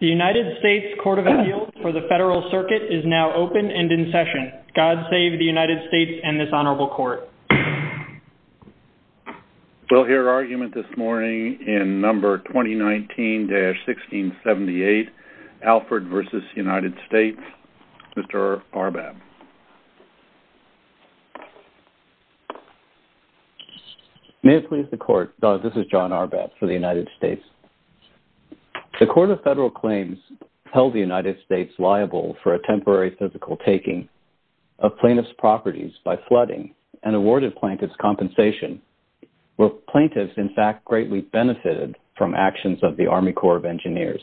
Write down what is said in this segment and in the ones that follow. The United States Court of Appeals for the Federal Circuit is now open and in session. God save the United States and this Honorable Court. We'll hear argument this morning in No. 2019-1678, Alford v. United States. Mr. Arbab. May it please the Court, this is John Arbab for the United States. The Court of Federal Claims held the United States liable for a temporary physical taking of plaintiff's properties by flooding and awarded plaintiff's compensation where plaintiffs in fact greatly benefited from actions of the Army Corps of Engineers.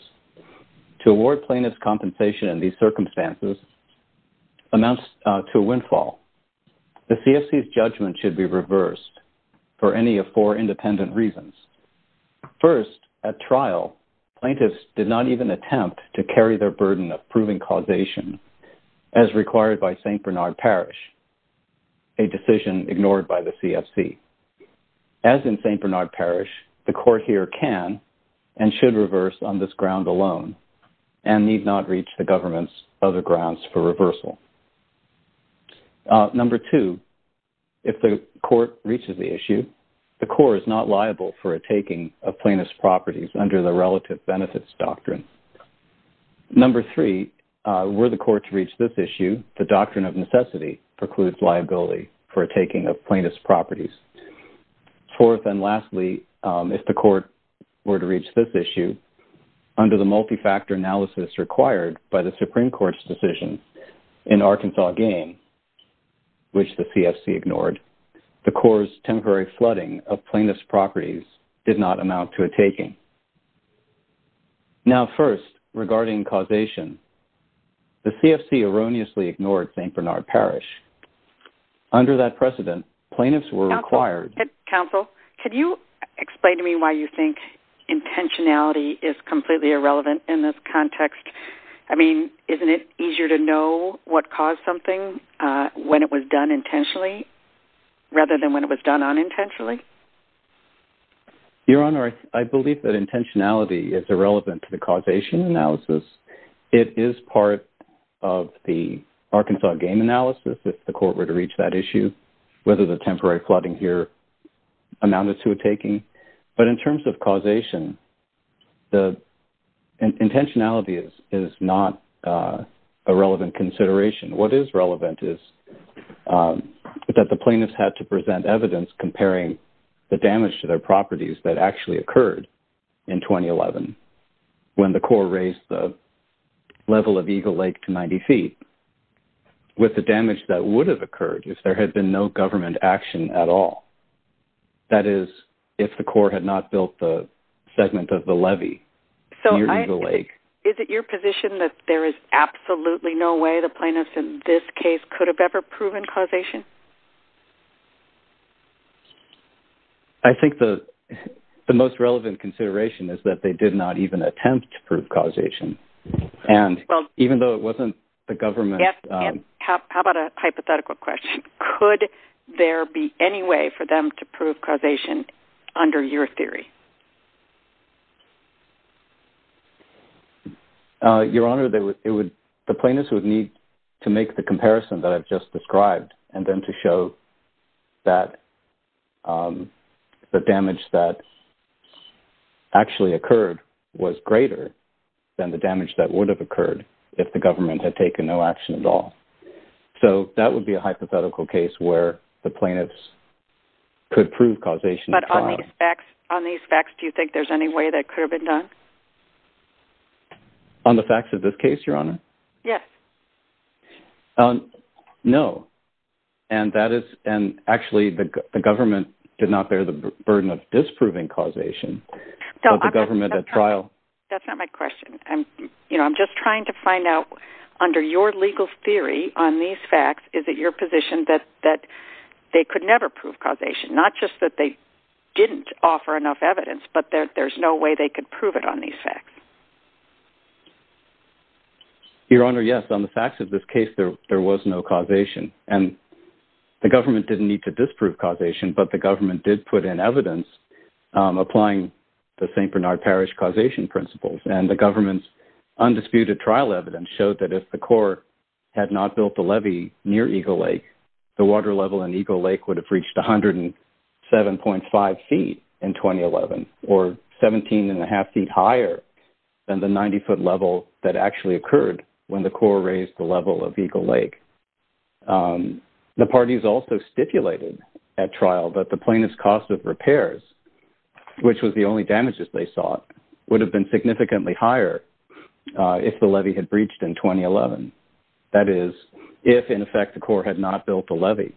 To award plaintiff's compensation in these circumstances amounts to a windfall. The CFC's judgment should be reversed for any of four independent reasons. First, at trial, plaintiffs did not even attempt to carry their burden of proving causation as required by St. Bernard Parish, a decision ignored by the CFC. As in St. Bernard Parish, the Court here can and should reverse on this ground alone and need not reach the government's other grounds for reversal. Number two, if the Court reaches the issue, the Corps is not liable for a taking of plaintiff's properties under the Relative Benefits Doctrine. Number three, were the Court to reach this issue, the Doctrine of Necessity precludes liability for a taking of plaintiff's properties. Fourth and lastly, if the Court were to reach this issue, under the multi-factor analysis required by the Supreme Court's decision in Arkansas Game, which the CFC ignored, the Corps' temporary flooding of plaintiff's properties did not amount to a taking. Now first, regarding causation, the CFC erroneously ignored St. Bernard Parish. Under that precedent, plaintiffs were required... Counsel, could you explain to me why you think intentionality is completely irrelevant in this context? I mean, isn't it easier to know what caused something when it was done intentionally rather than when it was done unintentionally? Your Honor, I believe that intentionality is irrelevant to the causation analysis. It is part of the Arkansas Game analysis if the Court were to reach that issue, whether the temporary flooding here amounted to a taking. But in terms of causation, intentionality is not a relevant consideration. What is relevant is that the plaintiffs had to present evidence comparing the damage to their properties that actually occurred in 2011 when the Corps raised the level of Eagle Lake to 90 feet with the damage that would have occurred if there had been no government action at all. That is, if the Corps had not built the segment of the levee near Eagle Lake. Is it your position that there is absolutely no way the plaintiffs in this case could have ever proven causation? I think the most relevant consideration is that they did not even attempt to prove causation. And even though it wasn't the government... How about a hypothetical question? Could there be any way for them to prove causation under your theory? Your Honor, the plaintiffs would need to make the comparison that I've just described and then to show that the damage that actually occurred was greater than the damage that would have occurred if the government had taken no action at all. So that would be a hypothetical case where the plaintiffs could prove causation. But on these facts, do you think there's any way that could have been done? On the facts of this case, Your Honor? Yes. No. And actually the government did not bear the burden of disproving causation. That's not my question. I'm just trying to find out under your legal theory on these facts, is it your position that they could never prove causation? Not just that they didn't offer enough evidence, but that there's no way they could prove it on these facts? Your Honor, yes. On the facts of this case, there was no causation. And the government didn't need to disprove causation, but the government did put in evidence applying the St. Bernard Parish causation principles. And the government's undisputed trial evidence showed that if the court had not built the levee near Eagle Lake, the water level in Eagle Lake would have reached 107.5 feet in 2011, or 17.5 feet higher than the 90-foot level that actually occurred when the court raised the level of Eagle Lake. The parties also stipulated at trial that the plaintiff's cost of repairs, which was the only damages they sought, would have been significantly higher if the levee had breached in 2011. That is, if, in effect, the court had not built the levee.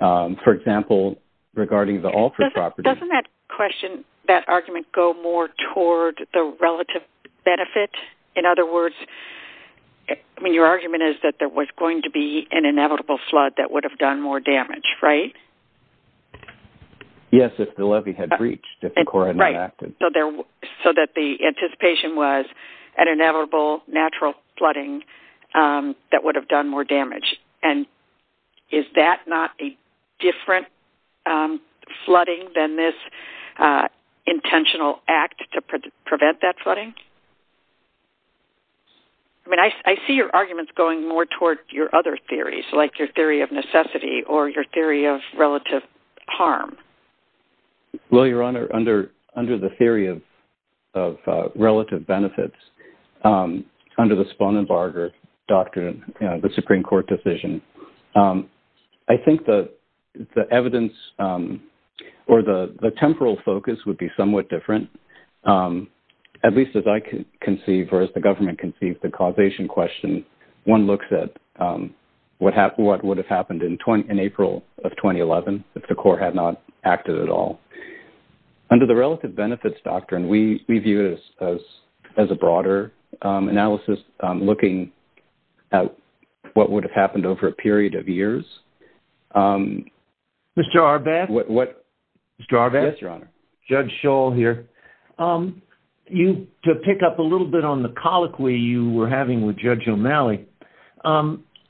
For example, regarding the Alford property… …there was going to be an inevitable flood that would have done more damage, right? Yes, if the levee had breached, if the court had not acted. Right. So that the anticipation was an inevitable natural flooding that would have done more damage. And is that not a different flooding than this intentional act to prevent that flooding? I mean, I see your arguments going more toward your other theories, like your theory of necessity or your theory of relative harm. Well, Your Honor, under the theory of relative benefits, under the Spohn and Barger doctrine, the Supreme Court decision, I think the evidence or the temporal focus would be somewhat different. At least as I conceive or as the government conceives the causation question, one looks at what would have happened in April of 2011 if the court had not acted at all. Under the relative benefits doctrine, we view it as a broader analysis, looking at what would have happened over a period of years. Mr. Arbath? Mr. Arbath? Yes, Your Honor. Judge Schall here. To pick up a little bit on the colloquy you were having with Judge O'Malley,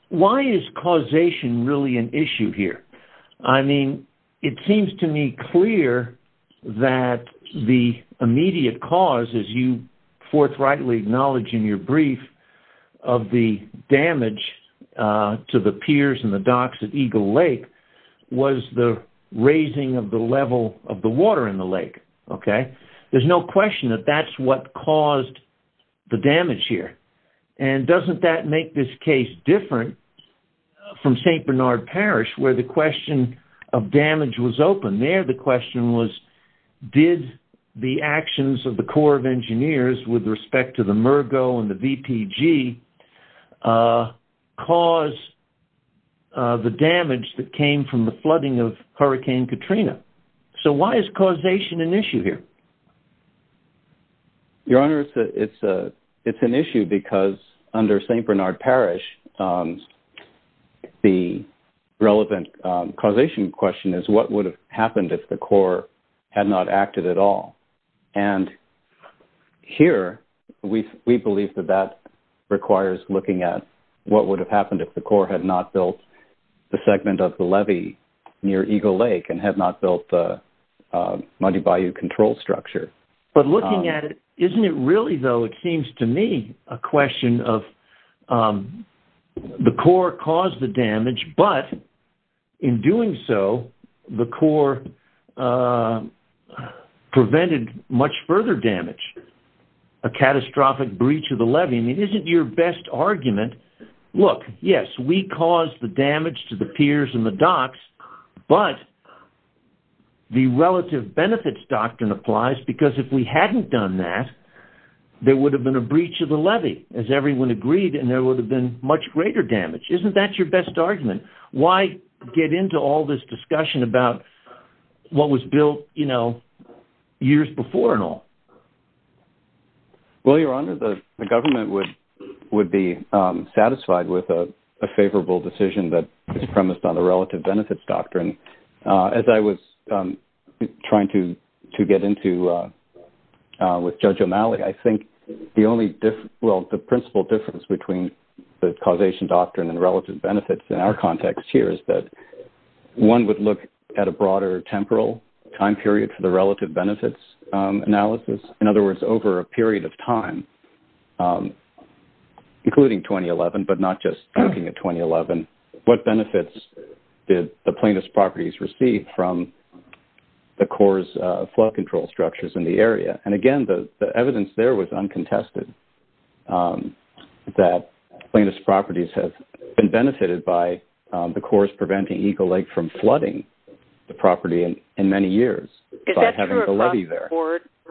why is causation really an issue here? I mean, it seems to me clear that the immediate cause, as you forthrightly acknowledge in your brief, of the damage to the piers and the docks at Eagle Lake was the raising of the level of the water in the lake. There's no question that that's what caused the damage here. And doesn't that make this case different from St. Bernard Parish, where the question of damage was open? There the question was, did the actions of the Corps of Engineers with respect to the Mergo and the VPG cause the damage that came from the flooding of Hurricane Katrina? So why is causation an issue here? Your Honor, it's an issue because under St. Bernard Parish, the relevant causation question is, what would have happened if the Corps had not acted at all? And here, we believe that that requires looking at what would have happened if the Corps had not built the segment of the levee near Eagle Lake and had not built the Muddy Bayou control structure. But looking at it, isn't it really, though, it seems to me, a question of the Corps caused the damage, but in doing so, the Corps prevented much further damage, a catastrophic breach of the levee? I mean, isn't your best argument, look, yes, we caused the damage to the piers and the docks, but the relative benefits doctrine applies, because if we hadn't done that, there would have been a breach of the levee, as everyone agreed, and there would have been much greater damage. Isn't that your best argument? Why get into all this discussion about what was built, you know, years before and all? Well, Your Honor, the government would be satisfied with a favorable decision that is premised on the relative benefits doctrine. As I was trying to get into with Judge O'Malley, I think the principal difference between the causation doctrine and relative benefits in our context here is that one would look at a broader temporal time period for the relative benefits analysis. In other words, over a period of time, including 2011, but not just looking at 2011, what benefits did the plaintiff's properties receive from the Corps' flood control structures in the area? And again, the evidence there was uncontested that plaintiff's properties have been benefited by the Corps' preventing Eagle Lake from flooding the property in many years by having the levee there.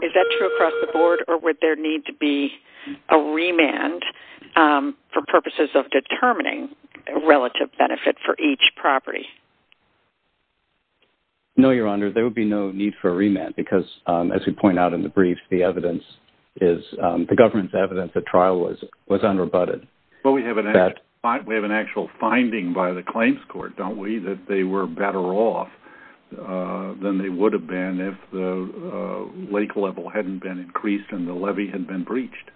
Is that true across the board, or would there need to be a remand for purposes of determining relative benefit for each property? No, Your Honor, there would be no need for a remand, because as we point out in the brief, the government's evidence at trial was unrebutted. But we have an actual finding by the claims court, don't we, that they were better off than they would have been if the lake level hadn't been increased and the levee hadn't been breached?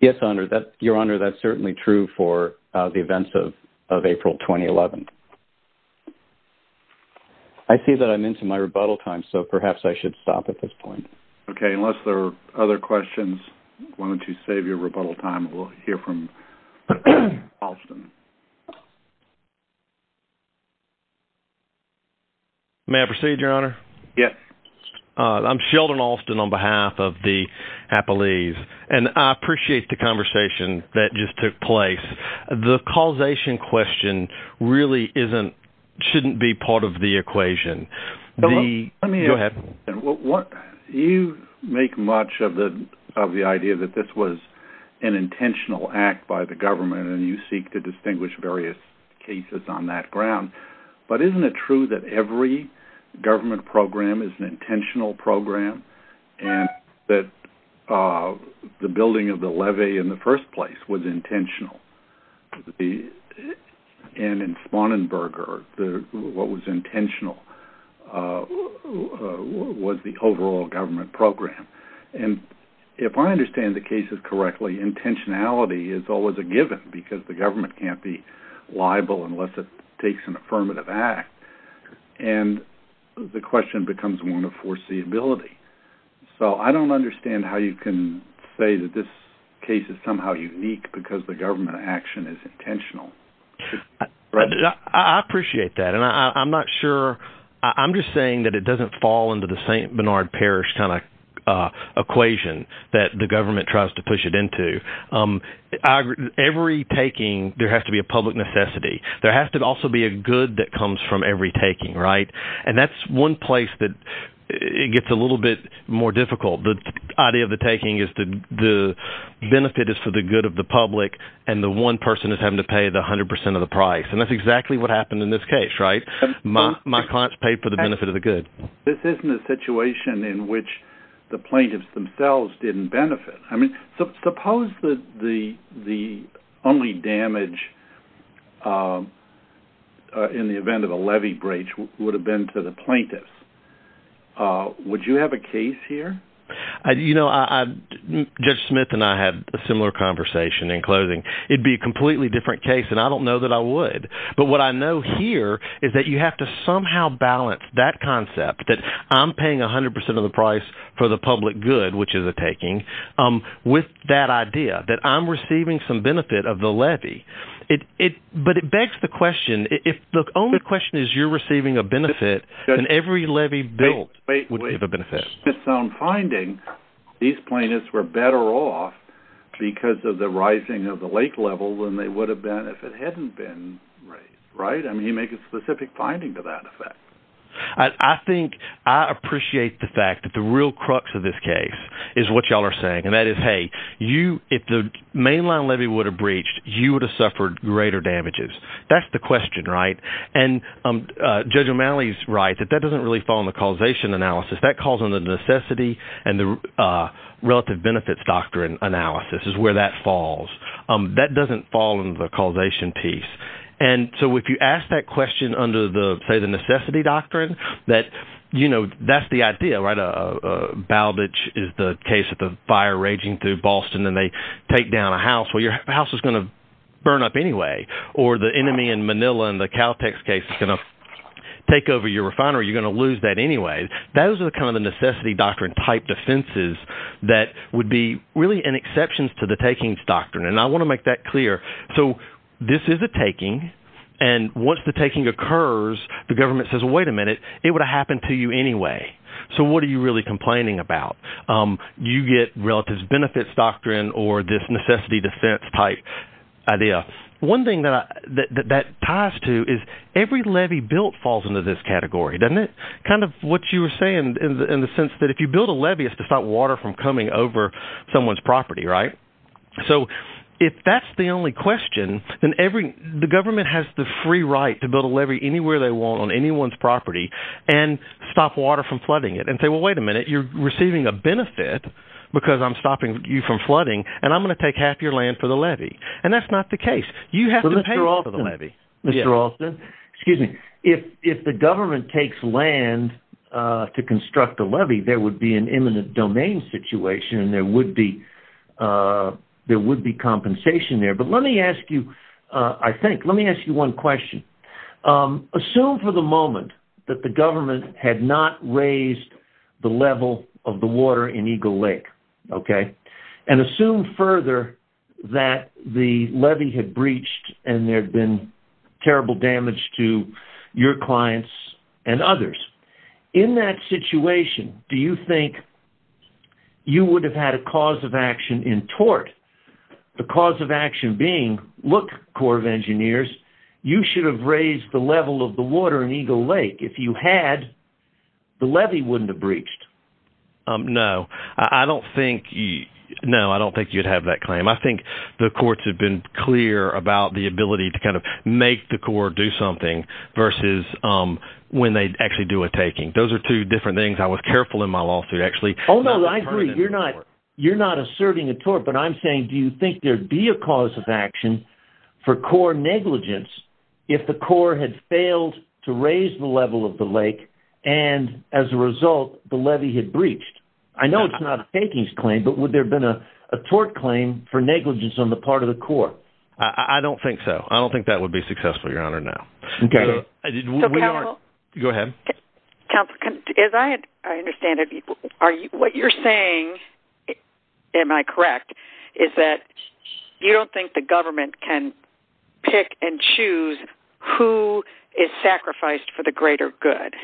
Yes, Your Honor, that's certainly true for the events of April 2011. I see that I'm into my rebuttal time, so perhaps I should stop at this point. Okay, unless there are other questions, why don't you save your rebuttal time, and we'll hear from Alston. May I proceed, Your Honor? Yes. I'm Sheldon Alston on behalf of the Appellees, and I appreciate the conversation that just took place. The causation question really shouldn't be part of the equation. Go ahead. You make much of the idea that this was an intentional act by the government, and you seek to distinguish various cases on that ground. But isn't it true that every government program is an intentional program, and that the building of the levee in the first place was intentional? And in Spauenberger, what was intentional was the overall government program. And if I understand the cases correctly, intentionality is always a given, because the government can't be liable unless it takes an affirmative act. And the question becomes one of foreseeability. So I don't understand how you can say that this case is somehow unique because the government action is intentional. I appreciate that, and I'm not sure – I'm just saying that it doesn't fall into the St. Bernard Parish kind of equation that the government tries to push it into. Every taking, there has to be a public necessity. There has to also be a good that comes from every taking, right? And that's one place that it gets a little bit more difficult. The idea of the taking is the benefit is for the good of the public, and the one person is having to pay the 100 percent of the price. And that's exactly what happened in this case, right? My clients paid for the benefit of the good. This isn't a situation in which the plaintiffs themselves didn't benefit. Suppose that the only damage in the event of a levy breach would have been to the plaintiffs. Would you have a case here? You know, Judge Smith and I had a similar conversation in closing. It would be a completely different case, and I don't know that I would. But what I know here is that you have to somehow balance that concept that I'm paying 100 percent of the price for the public good, which is a taking, with that idea that I'm receiving some benefit of the levy. But it begs the question, if the only question is you're receiving a benefit, then every levy built would be of a benefit. …found finding these plaintiffs were better off because of the rising of the lake level than they would have been if it hadn't been raised, right? I mean, you make a specific finding to that effect. I think I appreciate the fact that the real crux of this case is what y'all are saying, and that is, hey, if the mainline levy would have breached, you would have suffered greater damages. That's the question, right? And Judge O'Malley's right that that doesn't really fall in the causation analysis. That calls on the necessity and the relative benefits doctrine analysis is where that falls. That doesn't fall in the causation piece. And so if you ask that question under, say, the necessity doctrine, that's the idea, right? A balditch is the case of the fire raging through Boston, and they take down a house. Well, your house is going to burn up anyway, or the enemy in Manila in the Caltex case is going to take over your refinery. You're going to lose that anyway. Those are kind of the necessity doctrine-type defenses that would be really an exception to the takings doctrine, and I want to make that clear. So this is a taking, and once the taking occurs, the government says, well, wait a minute. It would have happened to you anyway. So what are you really complaining about? You get relative benefits doctrine or this necessity defense-type idea. One thing that ties to is every levy built falls into this category, doesn't it? Kind of what you were saying in the sense that if you build a levy, it's to stop water from coming over someone's property, right? So if that's the only question, then the government has the free right to build a levy anywhere they want on anyone's property and stop water from flooding it. And say, well, wait a minute. You're receiving a benefit because I'm stopping you from flooding, and I'm going to take half your land for the levy. And that's not the case. You have to pay for the levy. Mr. Alston, excuse me. If the government takes land to construct a levy, there would be an imminent domain situation, and there would be compensation there. But let me ask you, I think, let me ask you one question. Assume for the moment that the government had not raised the level of the water in Eagle Lake, okay? And assume further that the levy had breached and there had been terrible damage to your clients and others. In that situation, do you think you would have had a cause of action in tort? The cause of action being, look, Corps of Engineers, you should have raised the level of the water in Eagle Lake. If you had, the levy wouldn't have breached. No. I don't think, no, I don't think you'd have that claim. I think the courts have been clear about the ability to kind of make the Corps do something versus when they actually do a taking. Those are two different things. I was careful in my lawsuit, actually. Oh, no, I agree. You're not asserting a tort. But I'm saying, do you think there'd be a cause of action for Corps negligence if the Corps had failed to raise the level of the lake and, as a result, the levy had breached? I know it's not a takings claim, but would there have been a tort claim for negligence on the part of the Corps? I don't think so. I don't think that would be successful, Your Honor, no. Okay. Go ahead. Counsel, as I understand it, what you're saying, am I correct, is that you don't think the government can pick and choose who is sacrificed for the greater good.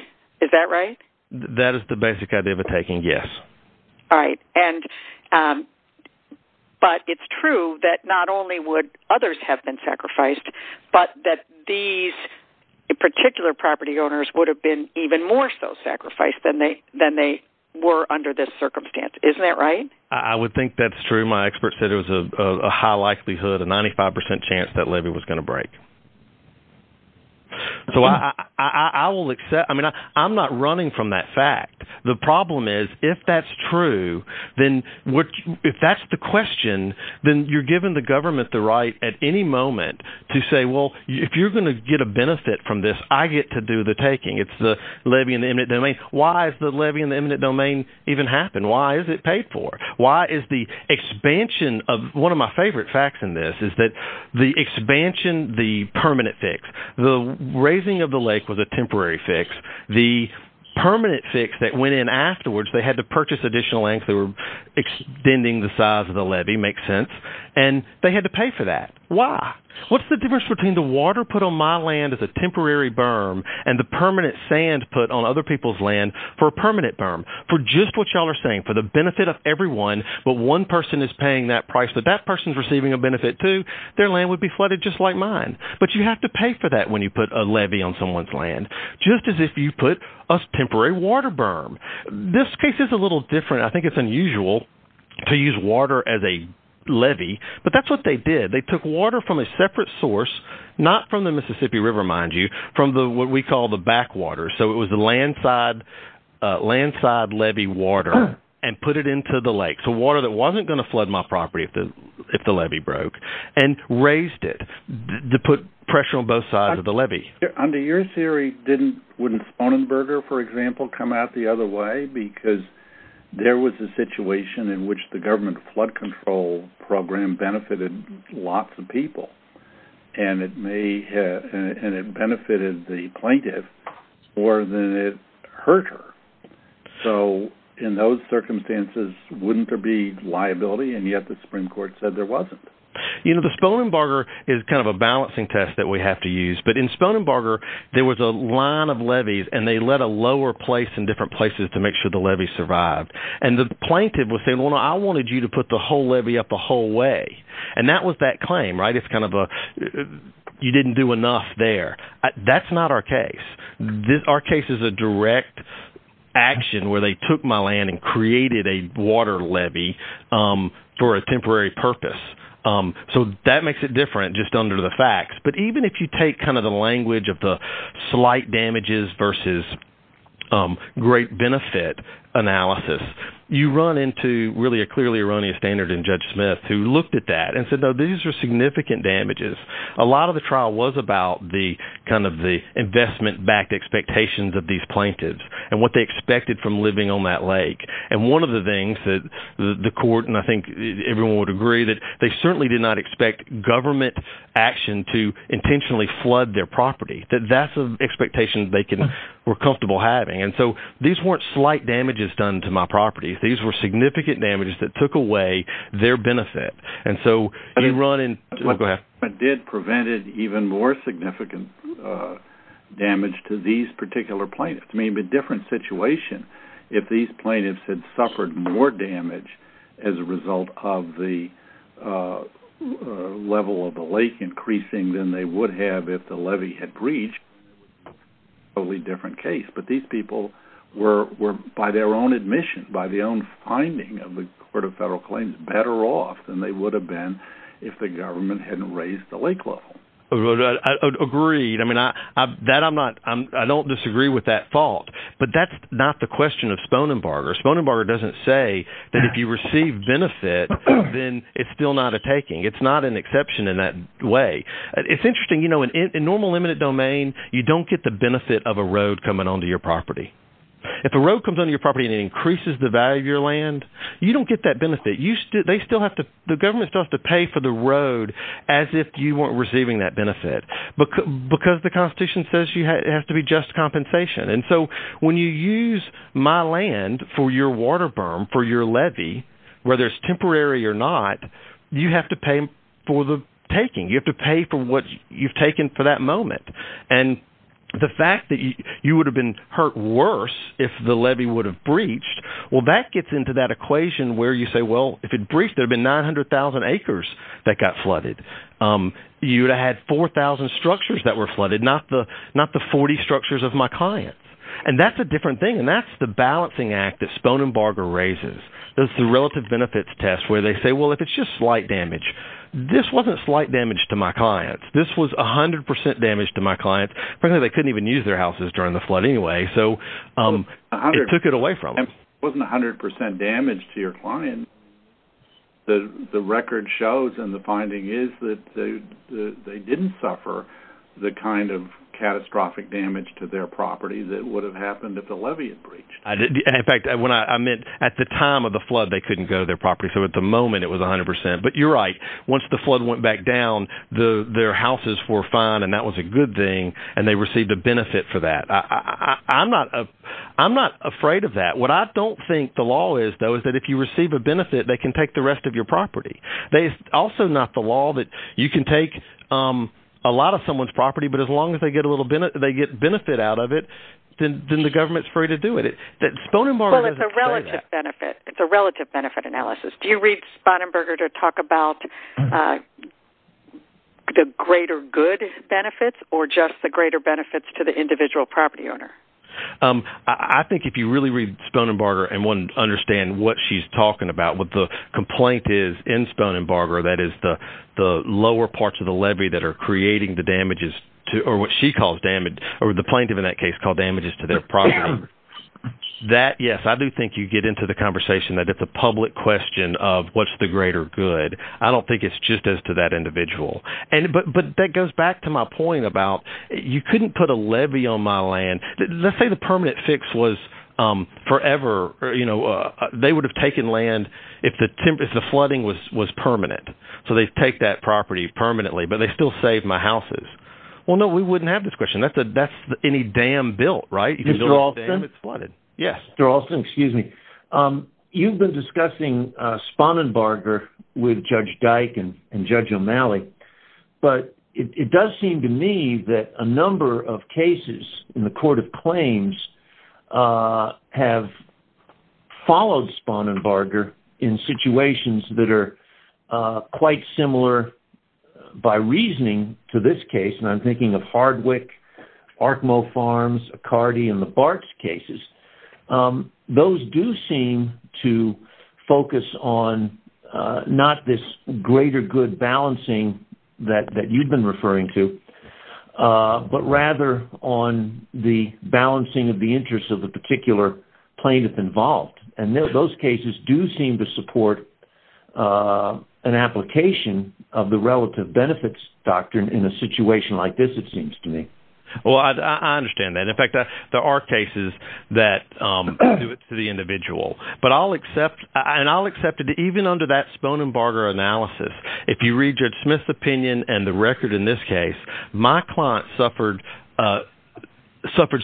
Is that right? That is the basic idea of a taking, yes. All right. But it's true that not only would others have been sacrificed, but that these particular property owners would have been even more so sacrificed than they were under this circumstance. Isn't that right? I would think that's true. My expert said it was a high likelihood, a 95% chance that levy was going to break. So I'm not running from that fact. The problem is if that's true, if that's the question, then you're giving the government the right at any moment to say, well, if you're going to get a benefit from this, I get to do the taking. It's the levy in the eminent domain. Why has the levy in the eminent domain even happened? Why is it paid for? Why is the expansion of – one of my favorite facts in this is that the expansion, the permanent fix, the raising of the lake was a temporary fix. The permanent fix that went in afterwards, they had to purchase additional land extending the size of the levy. Makes sense. And they had to pay for that. Why? What's the difference between the water put on my land as a temporary berm and the permanent sand put on other people's land for a permanent berm? For just what y'all are saying, for the benefit of everyone, but one person is paying that price, but that person is receiving a benefit too, their land would be flooded just like mine. But you have to pay for that when you put a levy on someone's land. Just as if you put a temporary water berm. This case is a little different. I think it's unusual to use water as a levy, but that's what they did. They took water from a separate source, not from the Mississippi River, mind you, from what we call the backwater. So it was the landside levy water and put it into the lake, so water that wasn't going to flood my property if the levy broke, and raised it to put pressure on both sides of the levy. Under your theory, wouldn't Sponenberger, for example, come out the other way? Because there was a situation in which the government flood control program benefited lots of people. And it benefited the plaintiff more than it hurt her. So in those circumstances, wouldn't there be liability? And yet the Supreme Court said there wasn't. You know, the Sponenberger is kind of a balancing test that we have to use. But in Sponenberger, there was a line of levies, and they let a lower place in different places to make sure the levy survived. And the plaintiff was saying, well, I wanted you to put the whole levy up the whole way. And that was that claim, right? It's kind of a, you didn't do enough there. That's not our case. Our case is a direct action where they took my land and created a water levy for a temporary purpose. So that makes it different just under the facts. But even if you take kind of the language of the slight damages versus great benefit analysis, you run into really a clearly erroneous standard in Judge Smith who looked at that and said, no, these are significant damages. A lot of the trial was about the kind of the investment-backed expectations of these plaintiffs and what they expected from living on that lake. And one of the things that the court, and I think everyone would agree, that they certainly did not expect government action to intentionally flood their property. That's an expectation they were comfortable having. And so these weren't slight damages done to my property. These were significant damages that took away their benefit. And so you run into – go ahead. It did prevent an even more significant damage to these particular plaintiffs. I mean, it would be a different situation if these plaintiffs had suffered more damage as a result of the level of the lake increasing than they would have if the levy had breached. Totally different case. But these people were, by their own admission, by their own finding of the Court of Federal Claims, better off than they would have been if the government hadn't raised the lake level. I would agree. I mean that I'm not – I don't disagree with that fault. But that's not the question of Sponenbarger. Sponenbarger doesn't say that if you receive benefit, then it's still not a taking. It's not an exception in that way. It's interesting. In normal limited domain, you don't get the benefit of a road coming onto your property. If a road comes onto your property and it increases the value of your land, you don't get that benefit. They still have to – the government still has to pay for the road as if you weren't receiving that benefit because the Constitution says it has to be just compensation. And so when you use my land for your water berm, for your levy, whether it's temporary or not, you have to pay for the taking. You have to pay for what you've taken for that moment. And the fact that you would have been hurt worse if the levy would have breached, well, that gets into that equation where you say, well, if it breached, there would have been 900,000 acres that got flooded. You would have had 4,000 structures that were flooded, not the 40 structures of my clients. And that's a different thing, and that's the balancing act that Sponenbarger raises. That's the relative benefits test where they say, well, if it's just slight damage, this wasn't slight damage to my clients. This was 100% damage to my clients. Apparently, they couldn't even use their houses during the flood anyway, so it took it away from them. If it wasn't 100% damage to your client, the record shows and the finding is that they didn't suffer the kind of catastrophic damage to their property that would have happened if the levy had breached. In fact, I meant at the time of the flood, they couldn't go to their property. So at the moment, it was 100%. But you're right. Once the flood went back down, their houses were fine, and that was a good thing, and they received a benefit for that. I'm not afraid of that. What I don't think the law is, though, is that if you receive a benefit, they can take the rest of your property. It's also not the law that you can take a lot of someone's property, but as long as they get benefit out of it, then the government is free to do it. Sponenbarger doesn't say that. Well, it's a relative benefit. It's a relative benefit analysis. Do you read Sponenberger to talk about the greater good benefits or just the greater benefits to the individual property owner? I think if you really read Sponenberger and want to understand what she's talking about, what the complaint is in Sponenberger, that is the lower parts of the levy that are creating the damages, or what she calls damage, or the plaintiff in that case called damages to their property. That, yes, I do think you get into the conversation that it's a public question of what's the greater good. I don't think it's just as to that individual. But that goes back to my point about you couldn't put a levy on my land. Let's say the permanent fix was forever. They would have taken land if the flooding was permanent, so they'd take that property permanently, but they still saved my houses. Well, no, we wouldn't have this question. That's any dam built, right? If you build a dam, it's flooded. Yes, Darolson, excuse me. You've been discussing Sponenberger with Judge Dyke and Judge O'Malley, but it does seem to me that a number of cases in the court of claims have followed Sponenberger in situations that are quite similar by reasoning to this case. I'm thinking of Hardwick, Arkmo Farms, Accardi, and the Bartz cases. Those do seem to focus on not this greater good balancing that you've been referring to, but rather on the balancing of the interests of the particular plaintiff involved. And those cases do seem to support an application of the relative benefits doctrine in a situation like this, it seems to me. Well, I understand that. In fact, there are cases that do it to the individual. And I'll accept that even under that Sponenberger analysis, if you read Judge Smith's opinion and the record in this case, my client suffered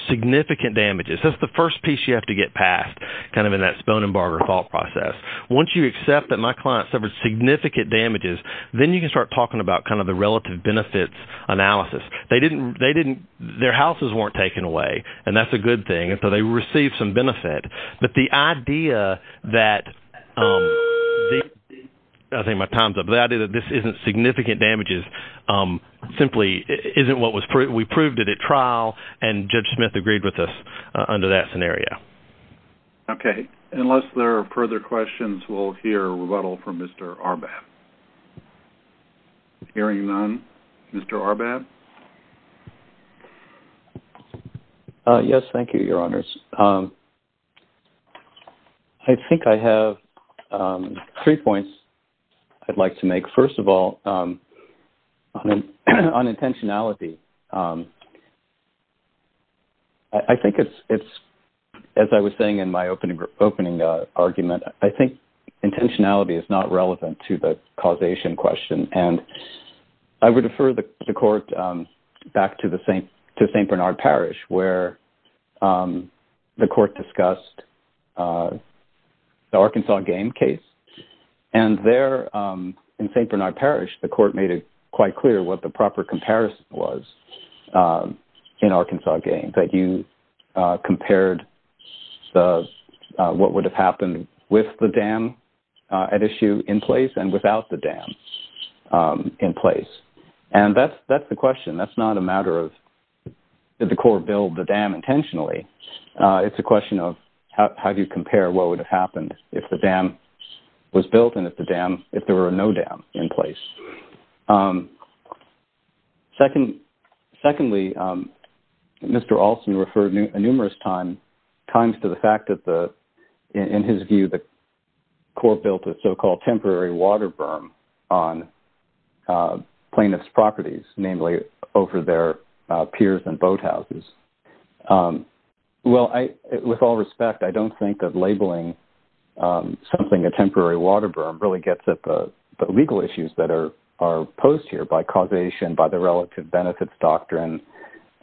significant damages. That's the first piece you have to get past kind of in that Sponenberger fault process. Once you accept that my client suffered significant damages, then you can start talking about kind of the relative benefits analysis. Their houses weren't taken away, and that's a good thing, so they received some benefit. But the idea that this isn't significant damages simply isn't what we proved it at trial, and Judge Smith agreed with us under that scenario. Okay. Unless there are further questions, we'll hear rebuttal from Mr. Arbat. Hearing none, Mr. Arbat? Yes, thank you, Your Honors. I think I have three points I'd like to make. First of all, on intentionality, I think it's, as I was saying in my opening argument, I think intentionality is not relevant to the causation question. I would defer the court back to St. Bernard Parish, where the court discussed the Arkansas game case. And there in St. Bernard Parish, the court made it quite clear what the proper comparison was in Arkansas game, that you compared what would have happened with the dam at issue in place and without the dam in place. And that's the question. That's not a matter of did the court build the dam intentionally. It's a question of how do you compare what would have happened if the dam was built and if there were no dam in place. Secondly, Mr. Alston referred numerous times to the fact that, in his view, the court built a so-called temporary water berm on plaintiff's properties, namely over their piers and boathouses. Well, with all respect, I don't think that labeling something a temporary water berm really gets at the legal issues that are posed here by causation, by the relative benefits doctrine,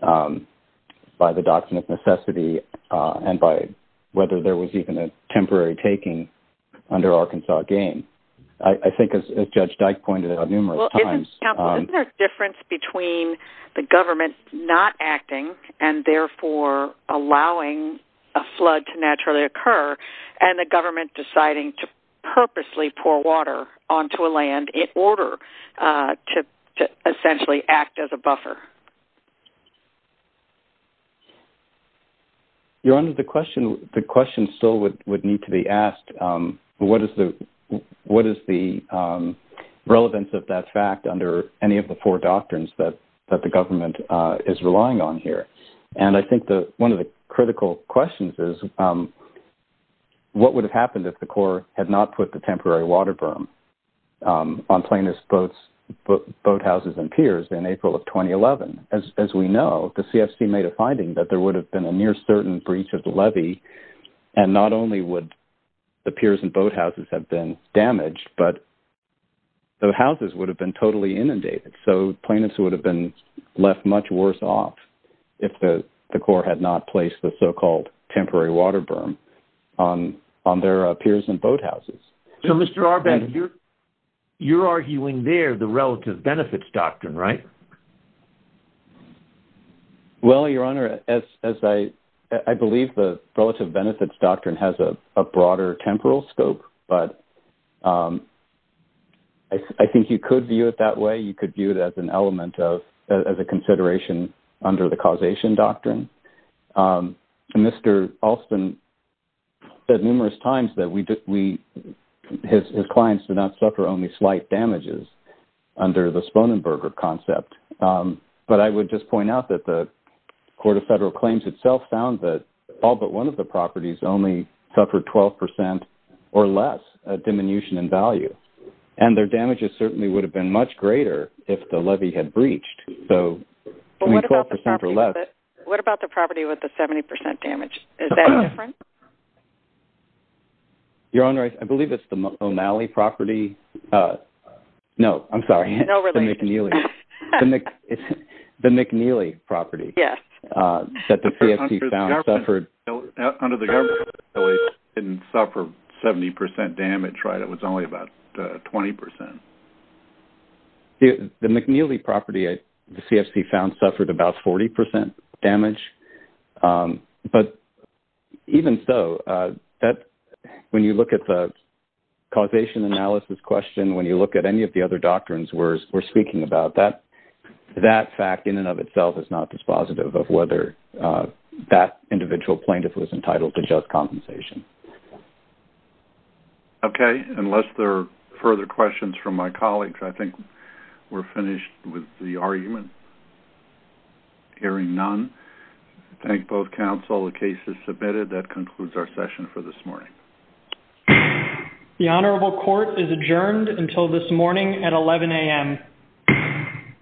by the doctrine of necessity, and by whether there was even a temporary taking under Arkansas game. I think, as Judge Dyke pointed out numerous times... Well, isn't there a difference between the government not acting and therefore allowing a flood to naturally occur, and the government deciding to purposely pour water onto a land in order to essentially act as a buffer? Your Honor, the question still would need to be asked. What is the relevance of that fact under any of the four doctrines that the government is relying on here? And I think one of the critical questions is what would have happened if the court had not put the temporary water berm on plaintiff's boathouses and piers in April of 2011? As we know, the CFC made a finding that there would have been a near certain breach of the levy, and not only would the piers and boathouses have been damaged, but the houses would have been totally inundated. So plaintiffs would have been left much worse off if the court had not placed the so-called temporary water berm on their piers and boathouses. So, Mr. Arben, you're arguing there the relative benefits doctrine, right? Well, Your Honor, I believe the relative benefits doctrine has a broader temporal scope, but I think you could view it that way. You could view it as an element of – as a consideration under the causation doctrine. Mr. Alston said numerous times that we – his clients did not suffer only slight damages under the Sponenberger concept. But I would just point out that the Court of Federal Claims itself found that all but one of the properties only suffered 12% or less diminution in value. And their damages certainly would have been much greater if the levy had breached. But what about the property with the – what about the property with the 70% damage? Is that different? Your Honor, I believe it's the O'Malley property – no, I'm sorry. No relation. The McNeely property. Yes. That the CFP found suffered – Under the government, it didn't suffer 70% damage, right? It was only about 20%. The McNeely property, the CFP found, suffered about 40% damage. But even so, that – when you look at the causation analysis question, when you look at any of the other doctrines we're speaking about, that fact in and of itself is not dispositive of whether that individual plaintiff was entitled to just compensation. Okay. Unless there are further questions from my colleagues, I think we're finished with the argument. Hearing none, I thank both counsel. The case is submitted. That concludes our session for this morning. The Honorable Court is adjourned until this morning at 11 a.m.